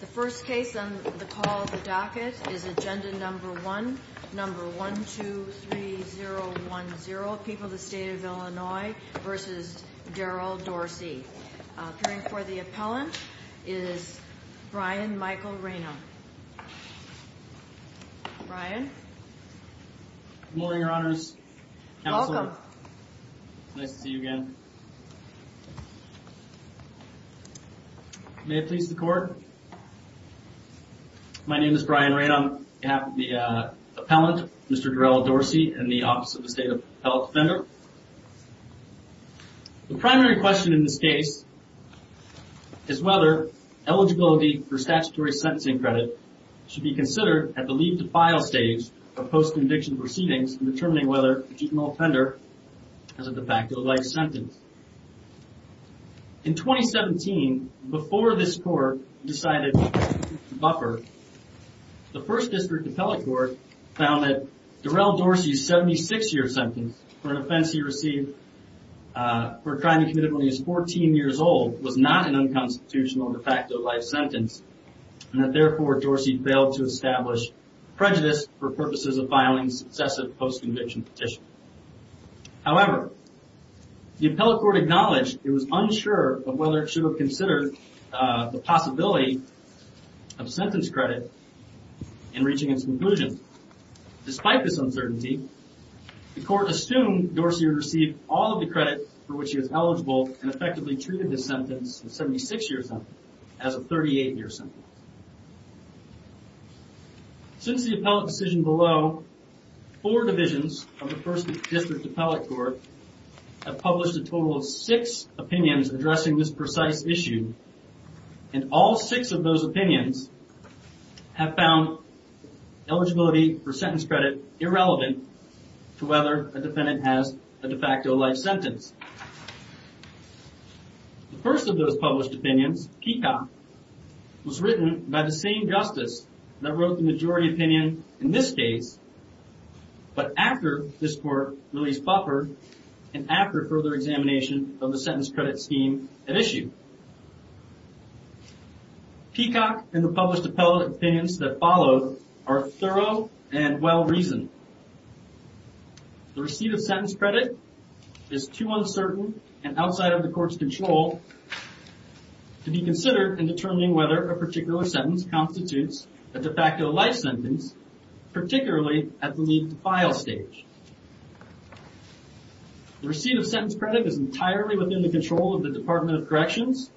The first case on the call of the docket is agenda number one number one two three zero one zero people the state of Illinois versus Daryl Dorsey appearing for the appellant is Brian Michael Reno Brian Morning your honors Nice to see you again Brian May it please the court My name is Brian right on behalf of the appellant mr. Daryl Dorsey and the office of the state of health fender The primary question in this case Is whether eligibility for statutory sentencing credit should be considered at the leave to file stage of post-conviction Proceedings and determining whether you can all fender As a defacto life sentence In 2017 before this court decided buffer The first district appellate court found that Daryl Dorsey's 76 year sentence for an offense. He received For a crime he committed when he was 14 years old was not an unconstitutional defacto life sentence And that therefore Dorsey failed to establish prejudice for purposes of filing successive post-conviction petition however The appellate court acknowledged it was unsure of whether it should have considered the possibility of sentence credit in reaching its conclusion despite this uncertainty The court assumed Dorsey received all of the credit for which he was eligible and effectively treated his sentence 76 years on as a 38 year sentence Since the appellate decision below Four divisions of the first district appellate court have published a total of six opinions addressing this precise issue and all six of those opinions have found Eligibility for sentence credit irrelevant to whether a defendant has a defacto life sentence The first of those published opinions Kika Was written by the same justice that wrote the majority opinion in this case But after this court released buffer and after further examination of the sentence credit scheme at issue Peacock and the published appellate opinions that followed are thorough and well reasoned The receipt of sentence credit is too uncertain and outside of the court's control To be considered in determining whether a particular sentence constitutes a defacto life sentence particularly at the lead to file stage The receipt of sentence credit is entirely within the control of the Department of Corrections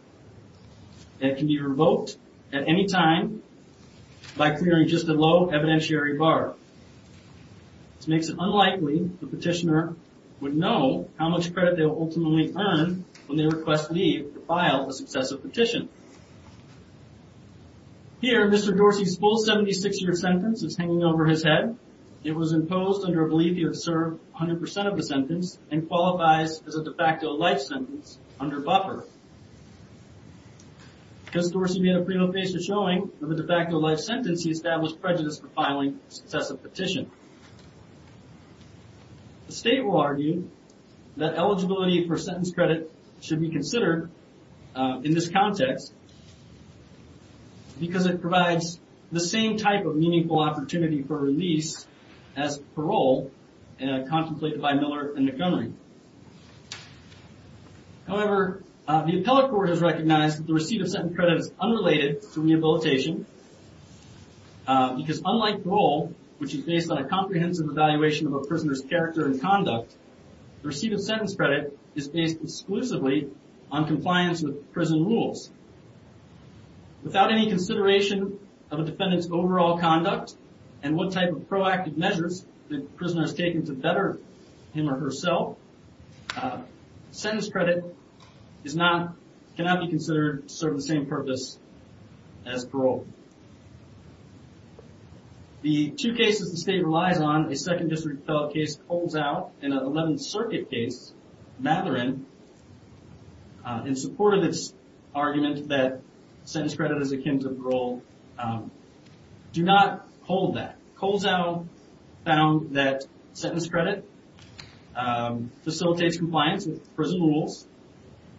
And can be revoked at any time by clearing just a low evidentiary bar This makes it unlikely the petitioner would know how much credit they will ultimately earn when they request leave to file a successive petition Here mr. Dorsey's full 76 year sentence is hanging over his head It was imposed under a belief you have served 100% of the sentence and qualifies as a de facto life sentence under buffer Because Dorsey had a pretty low case of showing of a de facto life sentence he established prejudice for filing successive petition The state will argue that eligibility for sentence credit should be considered in this context Because it provides the same type of meaningful opportunity for release as parole and contemplated by Miller and Montgomery However The appellate court has recognized that the receipt of sentence credit is unrelated to rehabilitation Because unlike role which is based on a comprehensive evaluation of a prisoner's character and conduct The receipt of sentence credit is based exclusively on compliance with prison rules Without any consideration of a defendant's overall conduct and what type of proactive measures the prisoners taken to better Him or herself Sentence credit is not cannot be considered to serve the same purpose as parole The two cases the state relies on a second district fellow case holds out in an 11th Circuit case Matherin In support of this argument that sentence credit is akin to parole Do not hold that holds out Found that sentence credit Facilitates compliance with prison rules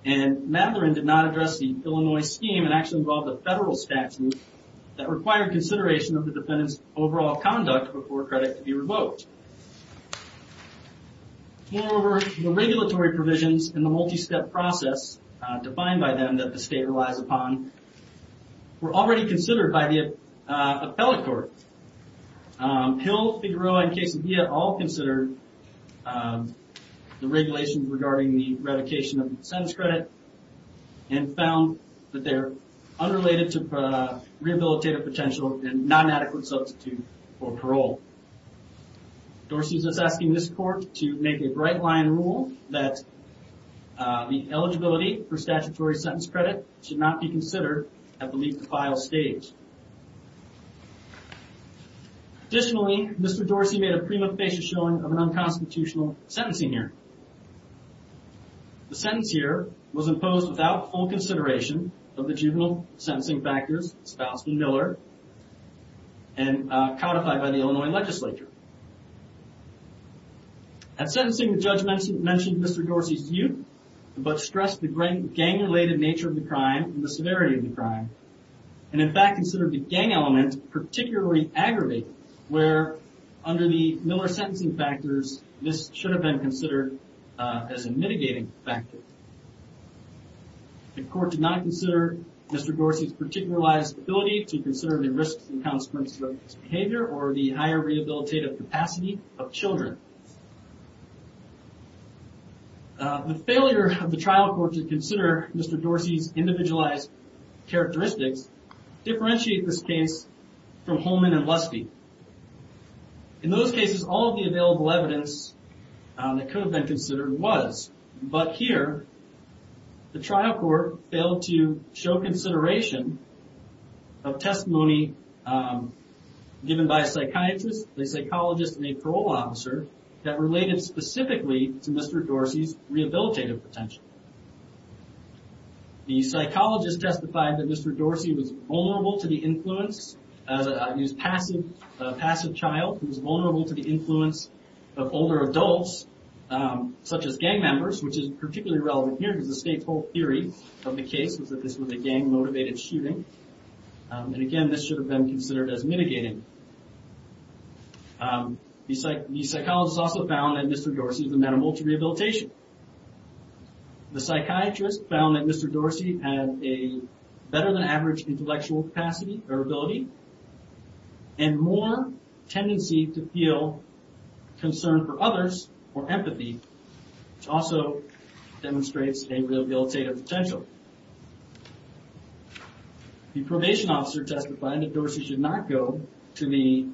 and Matherin did not address the Illinois scheme and actually involved a federal statute that required consideration of the defendants overall conduct before credit to be revoked Moreover the regulatory provisions in the multi-step process defined by them that the state relies upon Were already considered by the appellate court Hill, Figueroa, and Casabilla all considered The regulations regarding the revocation of sentence credit and found that they're unrelated to rehabilitative potential and non-adequate substitute for parole Dorsey's is asking this court to make a bright line rule that The eligibility for statutory sentence credit should not be considered at the leap to file stage Additionally, Mr. Dorsey made a prima facie showing of an unconstitutional sentencing here The sentence here was imposed without full consideration of the juvenile sentencing factors spouse and Miller and Codified by the Illinois legislature At sentencing the judge mentioned mentioned Mr. Dorsey's youth But stressed the great gang related nature of the crime and the severity of the crime and in fact considered the gang elements particularly aggravated where Under the Miller sentencing factors. This should have been considered as a mitigating factor The court did not consider Mr. Dorsey's particularized ability to consider the risks and consequences of his behavior or the higher rehabilitative capacity of children The failure of the trial court to consider Mr. Dorsey's individualized characteristics Differentiate this case from Holman and Lusky In those cases all of the available evidence That could have been considered was but here the trial court failed to show consideration of testimony Given by a psychiatrist, a psychologist, and a parole officer that related specifically to Mr. Dorsey's rehabilitative potential The Psychologist testified that Mr. Dorsey was vulnerable to the influence as he was a passive child He was vulnerable to the influence of older adults Such as gang members, which is particularly relevant here because the state's whole theory of the case was that this was a gang-motivated shooting And again, this should have been considered as mitigating The psychologist also found that Mr. Dorsey was a man of multi-rehabilitation The psychiatrist found that Mr. Dorsey had a better than average intellectual capacity or ability and more tendency to feel Concerned for others or empathy which also Demonstrates a rehabilitative potential The probation officer testified that Dorsey should not go to the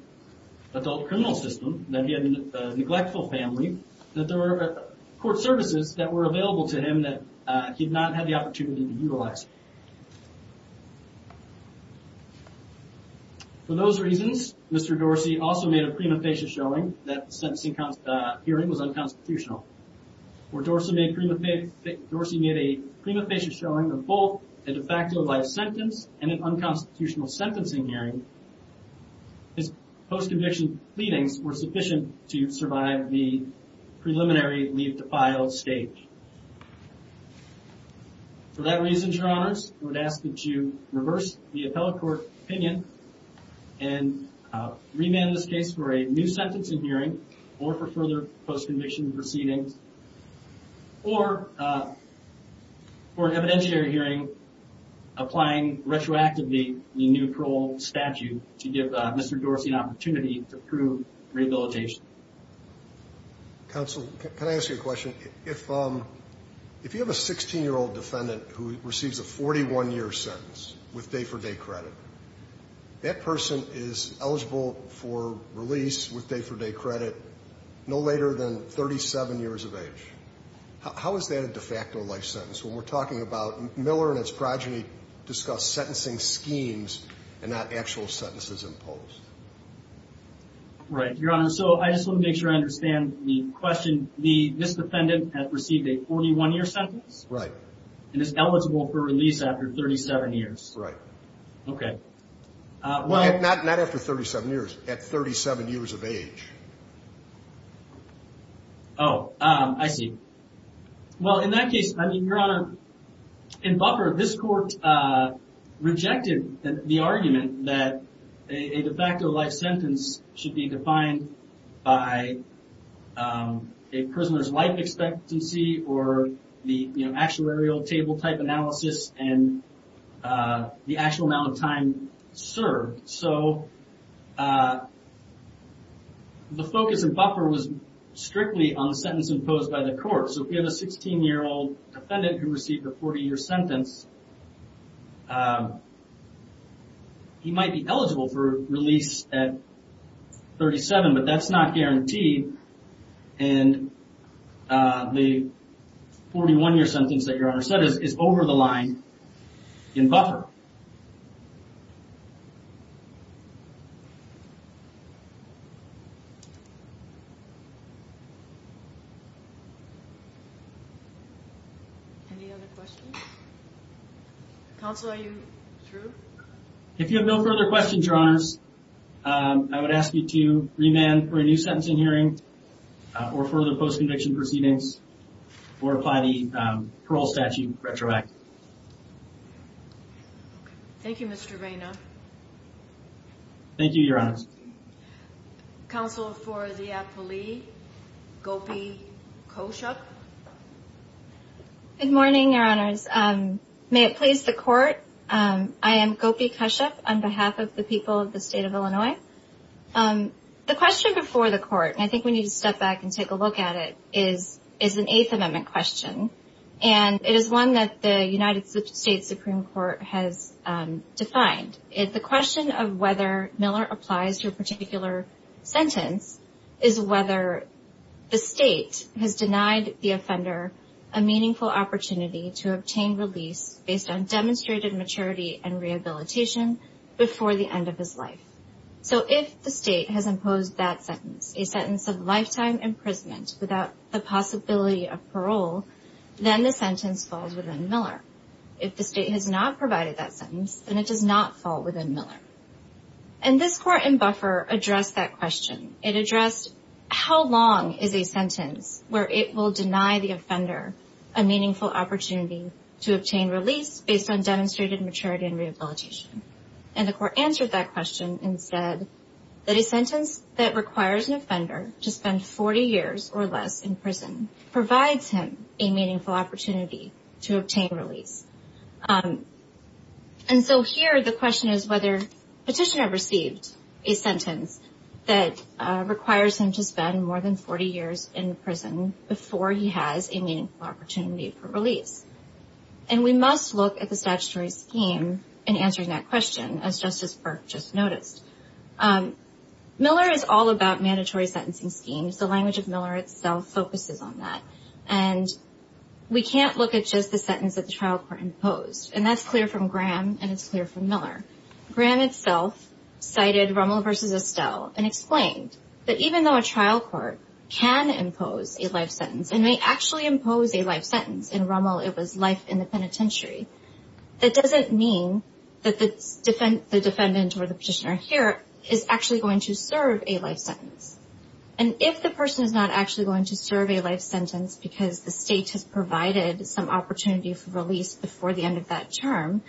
Adult criminal system, that he had a neglectful family, that there were court services that were available to him that he had not had the opportunity to utilize For those reasons, Mr. Dorsey also made a prima facie showing that the sentencing hearing was unconstitutional Where Dorsey made a prima facie showing of both a de facto life sentence and an unconstitutional sentencing hearing his post conviction pleadings were sufficient to survive the Preliminary leave to file stage For that reason, your honors, I would ask that you reverse the appellate court opinion and Remand this case for a new sentencing hearing or for further post conviction proceedings or For an evidentiary hearing Applying retroactively the new parole statute to give Mr. Dorsey an opportunity to prove rehabilitation Counsel, can I ask you a question? If you have a 16-year-old defendant who receives a 41-year sentence with day-for-day credit that person is eligible for release with day-for-day credit no later than 37 years of age How is that a de facto life sentence when we're talking about Miller and his progeny discuss sentencing schemes and not actual sentences imposed? Right, your honor, so I just want to make sure I understand the question the this defendant has received a 41-year sentence, right? And it's eligible for release after 37 years, right? Okay Well, not not after 37 years at 37 years of age. Oh I see Well in that case, I mean your honor in buffer this court Rejected the argument that a de facto life sentence should be defined by a prisoner's life expectancy or the actuarial table type analysis and the actual amount of time served so The focus and buffer was strictly on the sentence imposed by the court So if you have a 16 year old defendant who received a 40 year sentence He might be eligible for release at 37, but that's not guaranteed and The 41-year sentence that your honor said is over the line in buffer Any other questions? Counsel, are you through? If you have no further questions, your honors I would ask you to remand for a new sentencing hearing or further post conviction proceedings or apply the parole statute retroactive Thank You, Mr. Vaino Thank you, your honors Counsel for the a poli Gopi Koshuk Good morning, your honors. May it please the court. I am Gopi Koshuk on behalf of the people of the state of Illinois The question before the court and I think we need to step back and take a look at it is is an eighth amendment question And it is one that the United States Supreme Court has Defined if the question of whether Miller applies to a particular Sentence is whether The state has denied the offender a meaningful opportunity to obtain release based on demonstrated maturity and rehabilitation Before the end of his life So if the state has imposed that sentence a sentence of lifetime imprisonment without the possibility of parole then the sentence falls within Miller if the state has not provided that sentence and it does not fall within Miller and this court in buffer addressed that question it addressed how long is a sentence where it will deny the offender a Meaningful opportunity to obtain release based on demonstrated maturity and rehabilitation and the court answered that question and said That a sentence that requires an offender to spend 40 years or less in prison Provides him a meaningful opportunity to obtain release and so here the question is whether petitioner received a sentence that Requires him to spend more than 40 years in prison before he has a meaningful opportunity for release And we must look at the statutory scheme in answering that question as Justice Burke just noticed Miller is all about mandatory sentencing schemes the language of Miller itself focuses on that and We can't look at just the sentence that the trial court imposed and that's clear from Graham and it's clear from Miller Graham itself Cited Rommel versus Estelle and explained that even though a trial court Can impose a life sentence and may actually impose a life sentence in Rommel it was life in the penitentiary that doesn't mean that the defendant or the petitioner here is actually going to serve a life sentence and Provided some opportunity for release before the end of that term,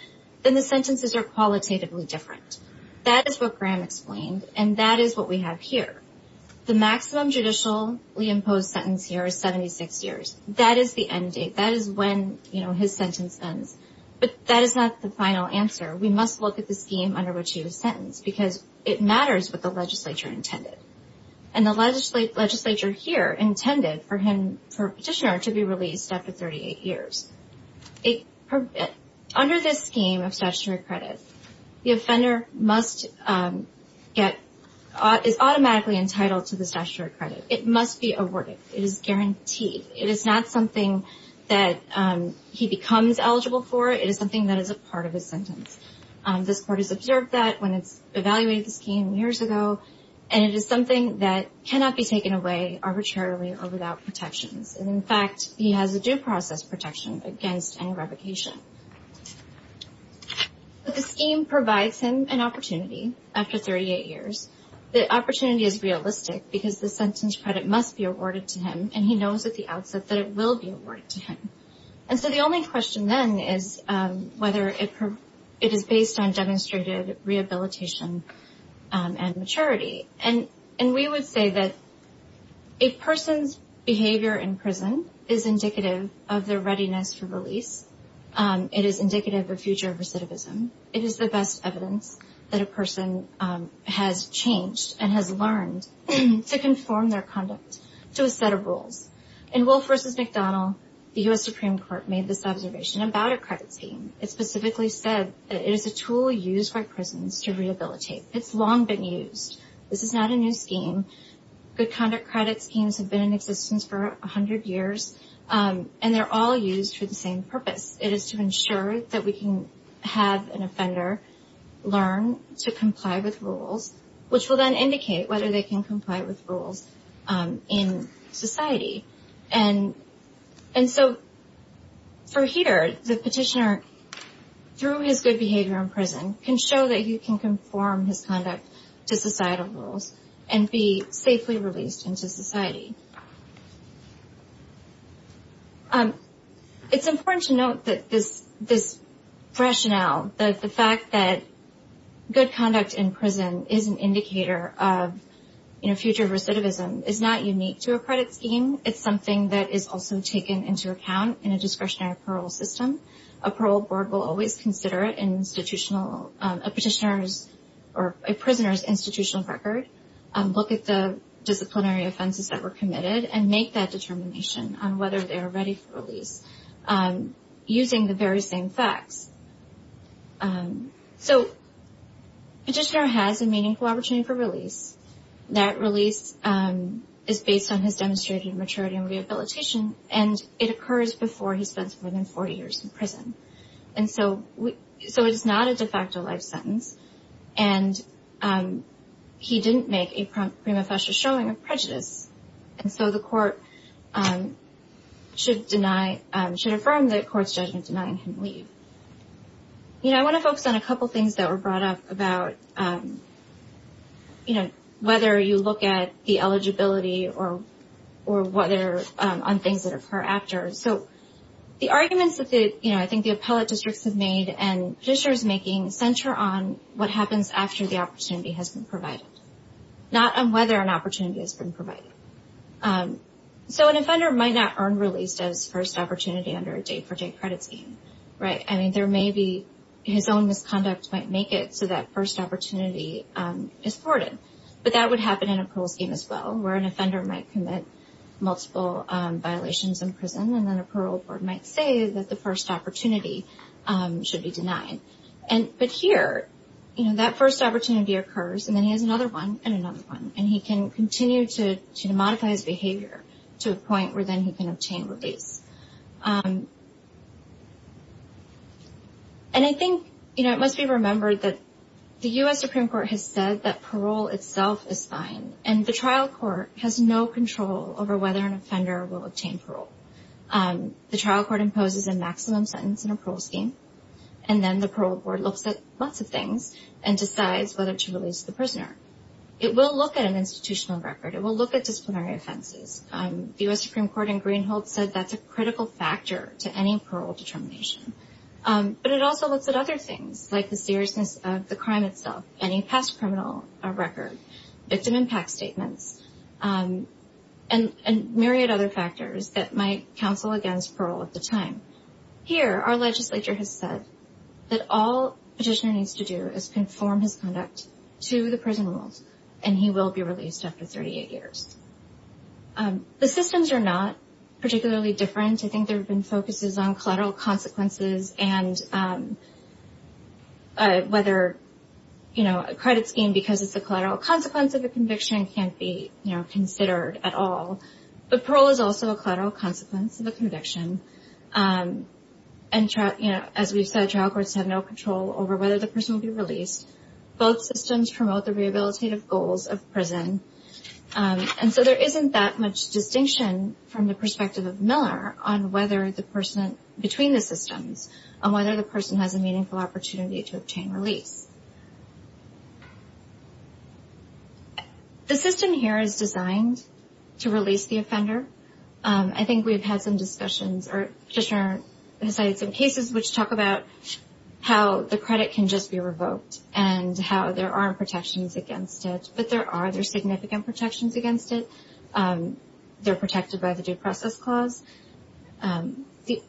then the sentences are qualitatively different That is what Graham explained and that is what we have here. The maximum judicially imposed sentence here is 76 years That is the end date. That is when you know his sentence ends, but that is not the final answer we must look at the scheme under which he was sentenced because it matters what the legislature intended and The legislature here intended for him for petitioner to be released after 38 years it under this scheme of statutory credit the offender must Get is automatically entitled to the statutory credit. It must be awarded. It is guaranteed. It is not something that He becomes eligible for it is something that is a part of his sentence This court has observed that when it's evaluated the scheme years ago And it is something that cannot be taken away arbitrarily or without protections And in fact, he has a due process protection against any revocation But the scheme provides him an opportunity after 38 years The opportunity is realistic because the sentence credit must be awarded to him and he knows at the outset that it will be awarded to him And so the only question then is whether it is based on demonstrated rehabilitation and maturity and and we would say that a Person's behavior in prison is indicative of their readiness for release It is indicative of future recidivism. It is the best evidence that a person Has changed and has learned to conform their conduct to a set of rules in wolf versus McDonald The US Supreme Court made this observation about a credit scheme It specifically said it is a tool used by prisons to rehabilitate. It's long been used. This is not a new scheme Good conduct credits schemes have been in existence for a hundred years And they're all used for the same purpose. It is to ensure that we can have an offender Learn to comply with rules, which will then indicate whether they can comply with rules in society and so For here the petitioner Through his good behavior in prison can show that you can conform his conduct to societal rules and be safely released into society It's important to note that this this rationale that the fact that Good conduct in prison is an indicator of You know future recidivism is not unique to a credit scheme It's something that is also taken into account in a discretionary parole system a parole board will always consider it in institutional petitioners or a prisoner's institutional record and look at the Disciplinary offenses that were committed and make that determination on whether they are ready for release using the very same facts So Petitioner has a meaningful opportunity for release that release Is based on his demonstrated maturity and rehabilitation and it occurs before he spends more than 40 years in prison and so we so it's not a de facto life sentence and He didn't make a prima facie showing of prejudice and so the court Should deny should affirm that courts judgment denying him leave You know, I want to focus on a couple things that were brought up about You know, whether you look at the eligibility or or whether on things that occur after so The arguments that the you know I think the appellate districts have made and fishers making center on what happens after the opportunity has been provided Not on whether an opportunity has been provided So an offender might not earn released as first opportunity under a day-for-day credit scheme, right? I mean there may be his own misconduct might make it so that first opportunity is thwarted But that would happen in a pool scheme as well where an offender might commit multiple Violations in prison and then a parole board might say that the first opportunity Should be denied and but here, you know that first opportunity occurs And then he has another one and another one and he can continue to to modify his behavior To a point where then he can obtain release And I think you know It must be remembered that the US Supreme Court has said that parole itself is fine And the trial court has no control over whether an offender will obtain parole the trial court imposes a maximum sentence in a pool scheme and Then the parole board looks at lots of things and decides whether to release the prisoner It will look at an institutional record. It will look at disciplinary offenses The US Supreme Court in Greenhalgh said that's a critical factor to any parole determination But it also looks at other things like the seriousness of the crime itself any past criminal record victim impact statements and Myriad other factors that might counsel against parole at the time Here our legislature has said that all petitioner needs to do is conform his conduct to the prison rules And he will be released after 38 years The systems are not particularly different I think there have been focuses on collateral consequences and Whether You know a credit scheme because it's a collateral consequence of a conviction can't be, you know considered at all But parole is also a collateral consequence of a conviction And trial, you know, as we've said trial courts have no control over whether the person will be released Both systems promote the rehabilitative goals of prison And so there isn't that much distinction from the perspective of Miller on whether the person Between the systems on whether the person has a meaningful opportunity to obtain release The system here is designed to release the offender I think we've had some discussions or petitioner has cited some cases which talk about How the credit can just be revoked and how there aren't protections against it, but there are there significant protections against it They're protected by the due process clause The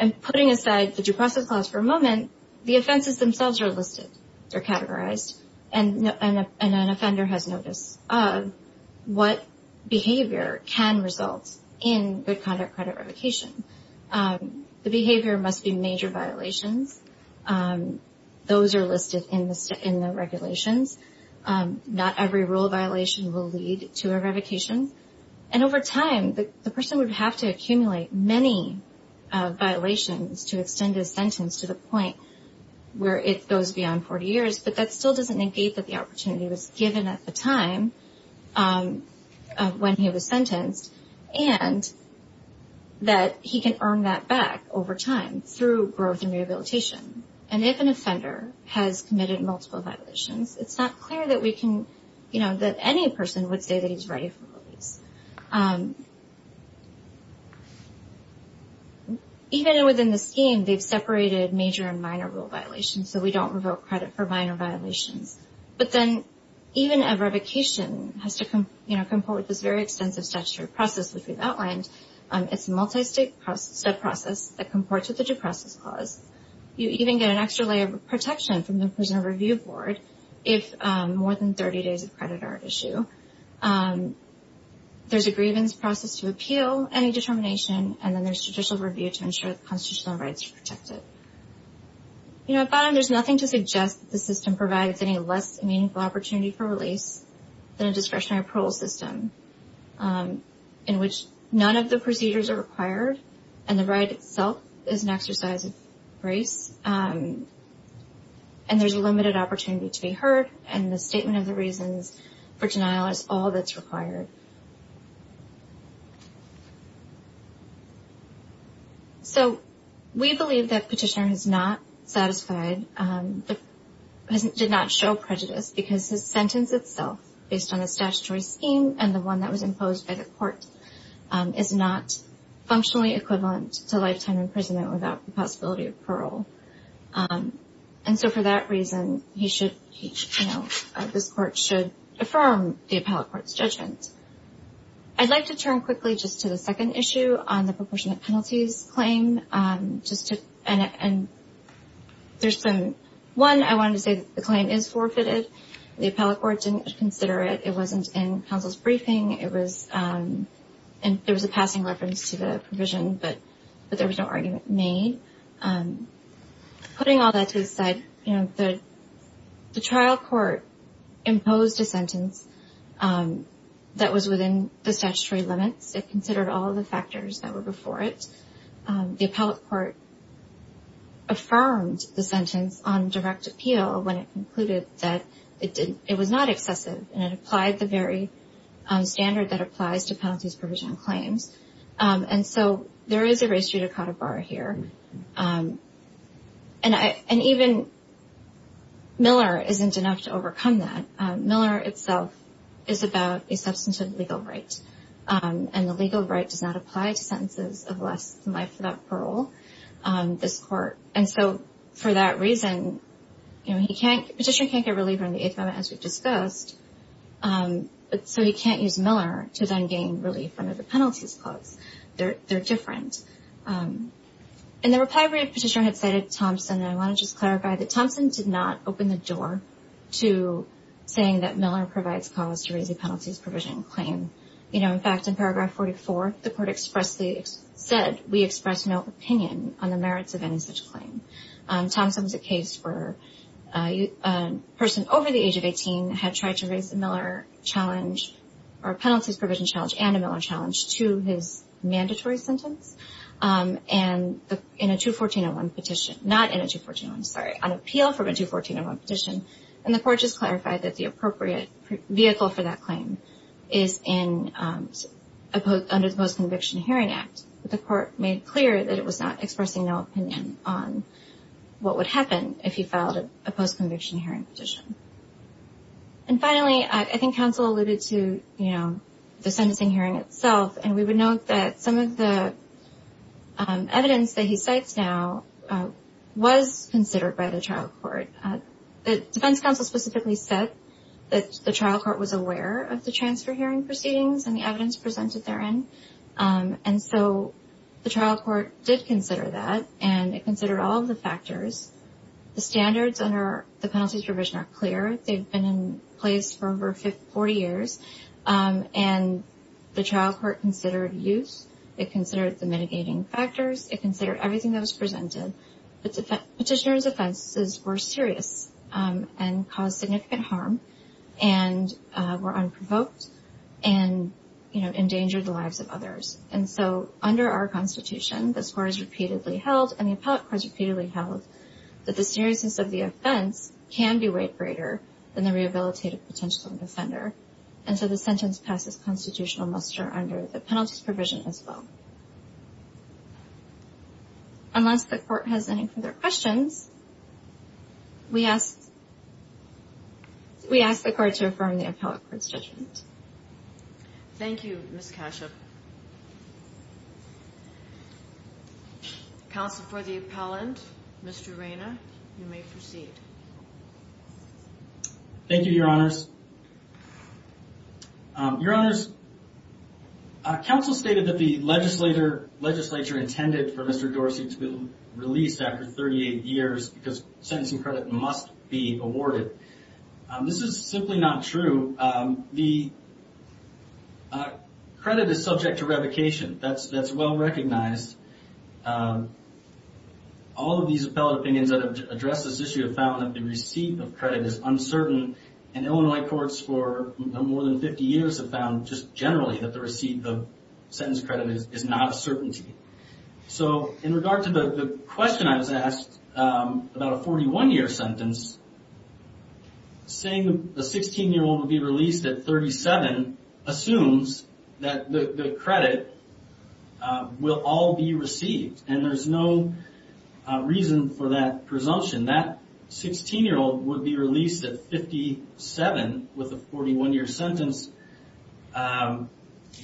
I'm putting aside the due process clause for a moment. The offenses themselves are listed They're categorized and no and an offender has noticed What behavior can result in good conduct credit revocation? The behavior must be major violations Those are listed in the state in the regulations Not every rule violation will lead to a revocation and over time the person would have to accumulate many Violations to extend his sentence to the point where it goes beyond 40 years But that still doesn't negate that the opportunity was given at the time When he was sentenced and That he can earn that back over time through growth and rehabilitation and if an offender has committed multiple violations It's not clear that we can you know that any person would say that he's ready for release Even within the scheme they've separated major and minor rule violations, so we don't revoke credit for minor violations But then even a revocation has to come you know come forward this very extensive statutory process which we've outlined It's a multi-state process that comports with the due process clause You even get an extra layer of protection from the prisoner review board if more than 30 days of credit are at issue There's a grievance process to appeal any determination and then there's judicial review to ensure the constitutional rights are protected You know at bottom there's nothing to suggest that the system provides any less meaningful opportunity for release than a discretionary parole system In which none of the procedures are required and the right itself is an exercise of grace and There's a limited opportunity to be heard and the statement of the reasons for denial is all that's required So We believe that petitioner has not satisfied The prison did not show prejudice because his sentence itself based on a statutory scheme and the one that was imposed by the court Is not functionally equivalent to lifetime imprisonment without the possibility of parole And so for that reason he should This court should affirm the appellate court's judgment I'd like to turn quickly just to the second issue on the proportionate penalties claim just to and There's been one. I wanted to say the claim is forfeited the appellate court didn't consider it. It wasn't in counsel's briefing. It was And there was a passing reference to the provision, but but there was no argument made Putting all that to the side, you know that the trial court imposed a sentence That was within the statutory limits it considered all the factors that were before it the appellate court Affirmed the sentence on direct appeal when it concluded that it did it was not excessive and it applied the very Standard that applies to penalties provision claims And so there is a ratio to cut a bar here and I and even Miller isn't enough to overcome that Miller itself is about a substantive legal right And the legal right does not apply to sentences of less than life without parole This court and so for that reason, you know, he can't petition can't get relief on the 8th amendment as we've discussed But so he can't use Miller to then gain relief under the penalties clause. They're they're different And the reply rate petitioner had cited Thompson and I want to just clarify that Thompson did not open the door to Saying that Miller provides cause to raise the penalties provision claim, you know In fact in paragraph 44 the court expressly said we express no opinion on the merits of any such claim Thompson was a case where you Person over the age of 18 had tried to raise the Miller Challenge or penalties provision challenge and a Miller challenge to his mandatory sentence And in a 214-01 petition not in a 214-01 I'm sorry on appeal from a 214-01 petition and the court just clarified that the appropriate vehicle for that claim is in Opposed under the post conviction hearing act the court made clear that it was not expressing no opinion on What would happen if he filed a post conviction hearing petition? and finally, I think counsel alluded to you know, the sentencing hearing itself and we would note that some of the evidence that he cites now Was considered by the trial court The defense counsel specifically said that the trial court was aware of the transfer hearing proceedings and the evidence presented therein And so the trial court did consider that and it considered all the factors The standards under the penalties provision are clear. They've been in place for over 40 years And The trial court considered use it considered the mitigating factors. It considered everything that was presented the petitioner's offenses were serious and caused significant harm and were unprovoked and You know endangered the lives of others and so under our Constitution The score is repeatedly held and the appellate court is repeatedly held That the seriousness of the offense can be weighed greater than the rehabilitative potential defender And so the sentence passes constitutional muster under the penalties provision as well Unless the court has any further questions we asked We asked the court to affirm the appellate court's judgment Thank You, Miss Kashuk Counsel for the appellant. Mr. Reyna, you may proceed Thank you, your honors Your honors Counsel stated that the legislature Legislature intended for mr. Dorsey to be released after 38 years because sentencing credit must be awarded the Credit is subject to the Revocation that's that's well recognized All of these appellate opinions that have addressed this issue have found that the receipt of credit is uncertain and Illinois courts for More than 50 years have found just generally that the receipt the sentence credit is not a certainty So in regard to the question I was asked about a 41 year sentence Saying the 16 year old would be released at 37 Assumes that the credit Will all be received and there's no Reason for that presumption that 16 year old would be released at 57 with a 41 year sentence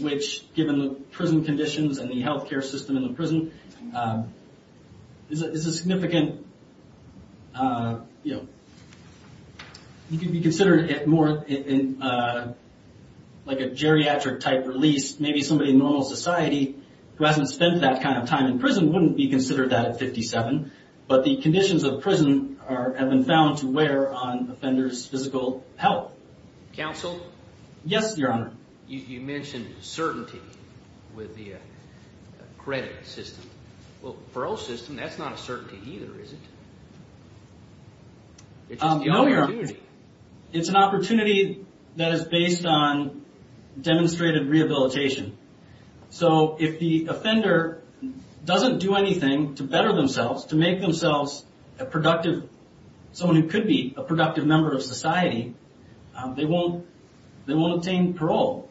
Which given the prison conditions and the health care system in the prison Is a significant You know you could be considered it more in Like a geriatric type release maybe somebody in normal society Who hasn't spent that kind of time in prison wouldn't be considered that at 57 But the conditions of prison are have been found to wear on offenders physical health Counsel yes, your honor you mentioned certainty with the Credit system well parole system. That's not a certainty either is it? It's It's an opportunity that is based on demonstrated rehabilitation so if the offender Doesn't do anything to better themselves to make themselves a productive Someone who could be a productive member of society They won't they won't obtain parole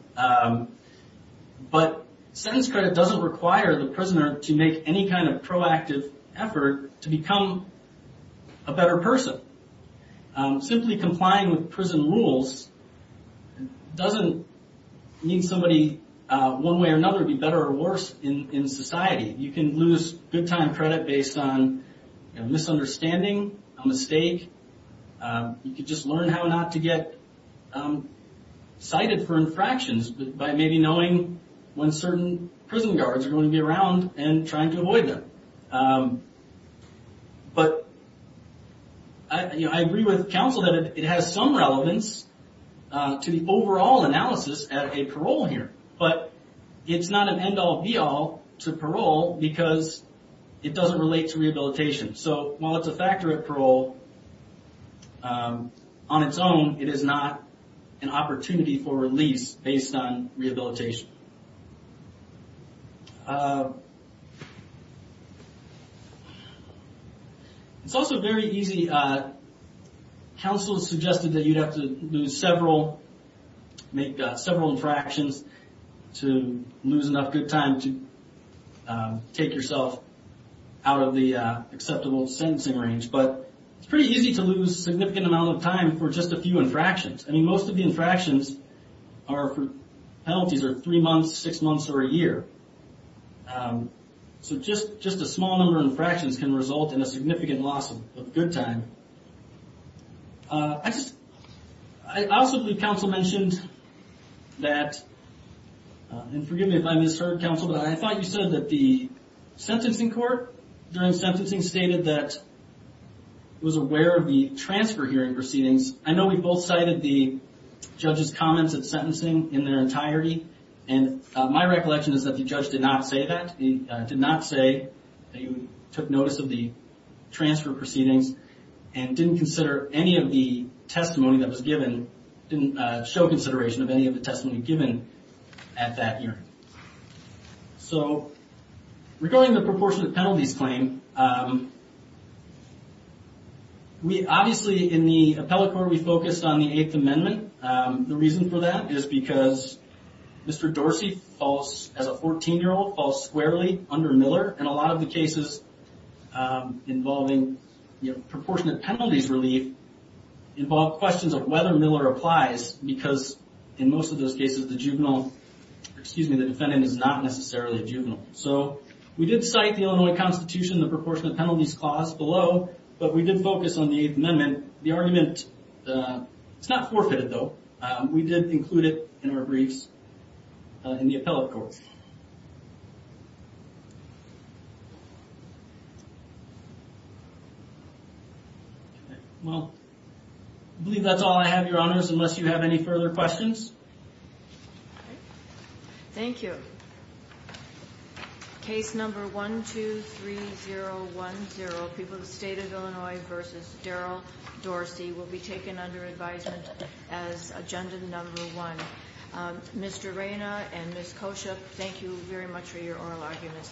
But sentence credit doesn't require the prisoner to make any kind of proactive effort to become a better person Simply complying with prison rules It doesn't Need somebody one way or another be better or worse in in society you can lose good time credit based on Misunderstanding a mistake You could just learn how not to get Cited for infractions, but by maybe knowing when certain prison guards are going to be around and trying to avoid them But I Agree with counsel that it has some relevance to the overall analysis at a parole here, but it's not an end-all be-all to parole because It doesn't relate to rehabilitation so while it's a factor of parole On its own it is not an opportunity for release based on rehabilitation It's also very easy Counsel has suggested that you'd have to lose several make several infractions to lose enough good time to take yourself out of the Acceptable sentencing range, but it's pretty easy to lose significant amount of time for just a few infractions. I mean most of the infractions are Penalties are three months six months or a year So just just a small number of infractions can result in a significant loss of good time I also believe counsel mentioned that And forgive me if I misheard counsel, but I thought you said that the sentencing court during sentencing stated that Was aware of the transfer hearing proceedings. I know we both cited the judges comments of sentencing in their entirety and My recollection is that the judge did not say that he did not say that you took notice of the Transfer proceedings and didn't consider any of the testimony that was given Didn't show consideration of any of the testimony given at that year so Regarding the proportion of penalties claim We obviously in the appellate court we focused on the Eighth Amendment the reason for that is because Mr. Dorsey falls as a 14 year old falls squarely under Miller and a lot of the cases involving proportionate penalties relief Involve questions of whether Miller applies because in most of those cases the juvenile Excuse me. The defendant is not necessarily a juvenile So we did cite the Illinois Constitution the proportion of penalties clause below, but we did focus on the Eighth Amendment the argument It's not forfeited though. We didn't include it in our briefs in the appellate court I Believe that's all I have your honors unless you have any further questions Thank you Case number one two three zero one zero people the state of Illinois versus Darryl Dorsey will be taken under advisement as agenda number one Mr. Reyna and miss kosher. Thank you very much for your oral arguments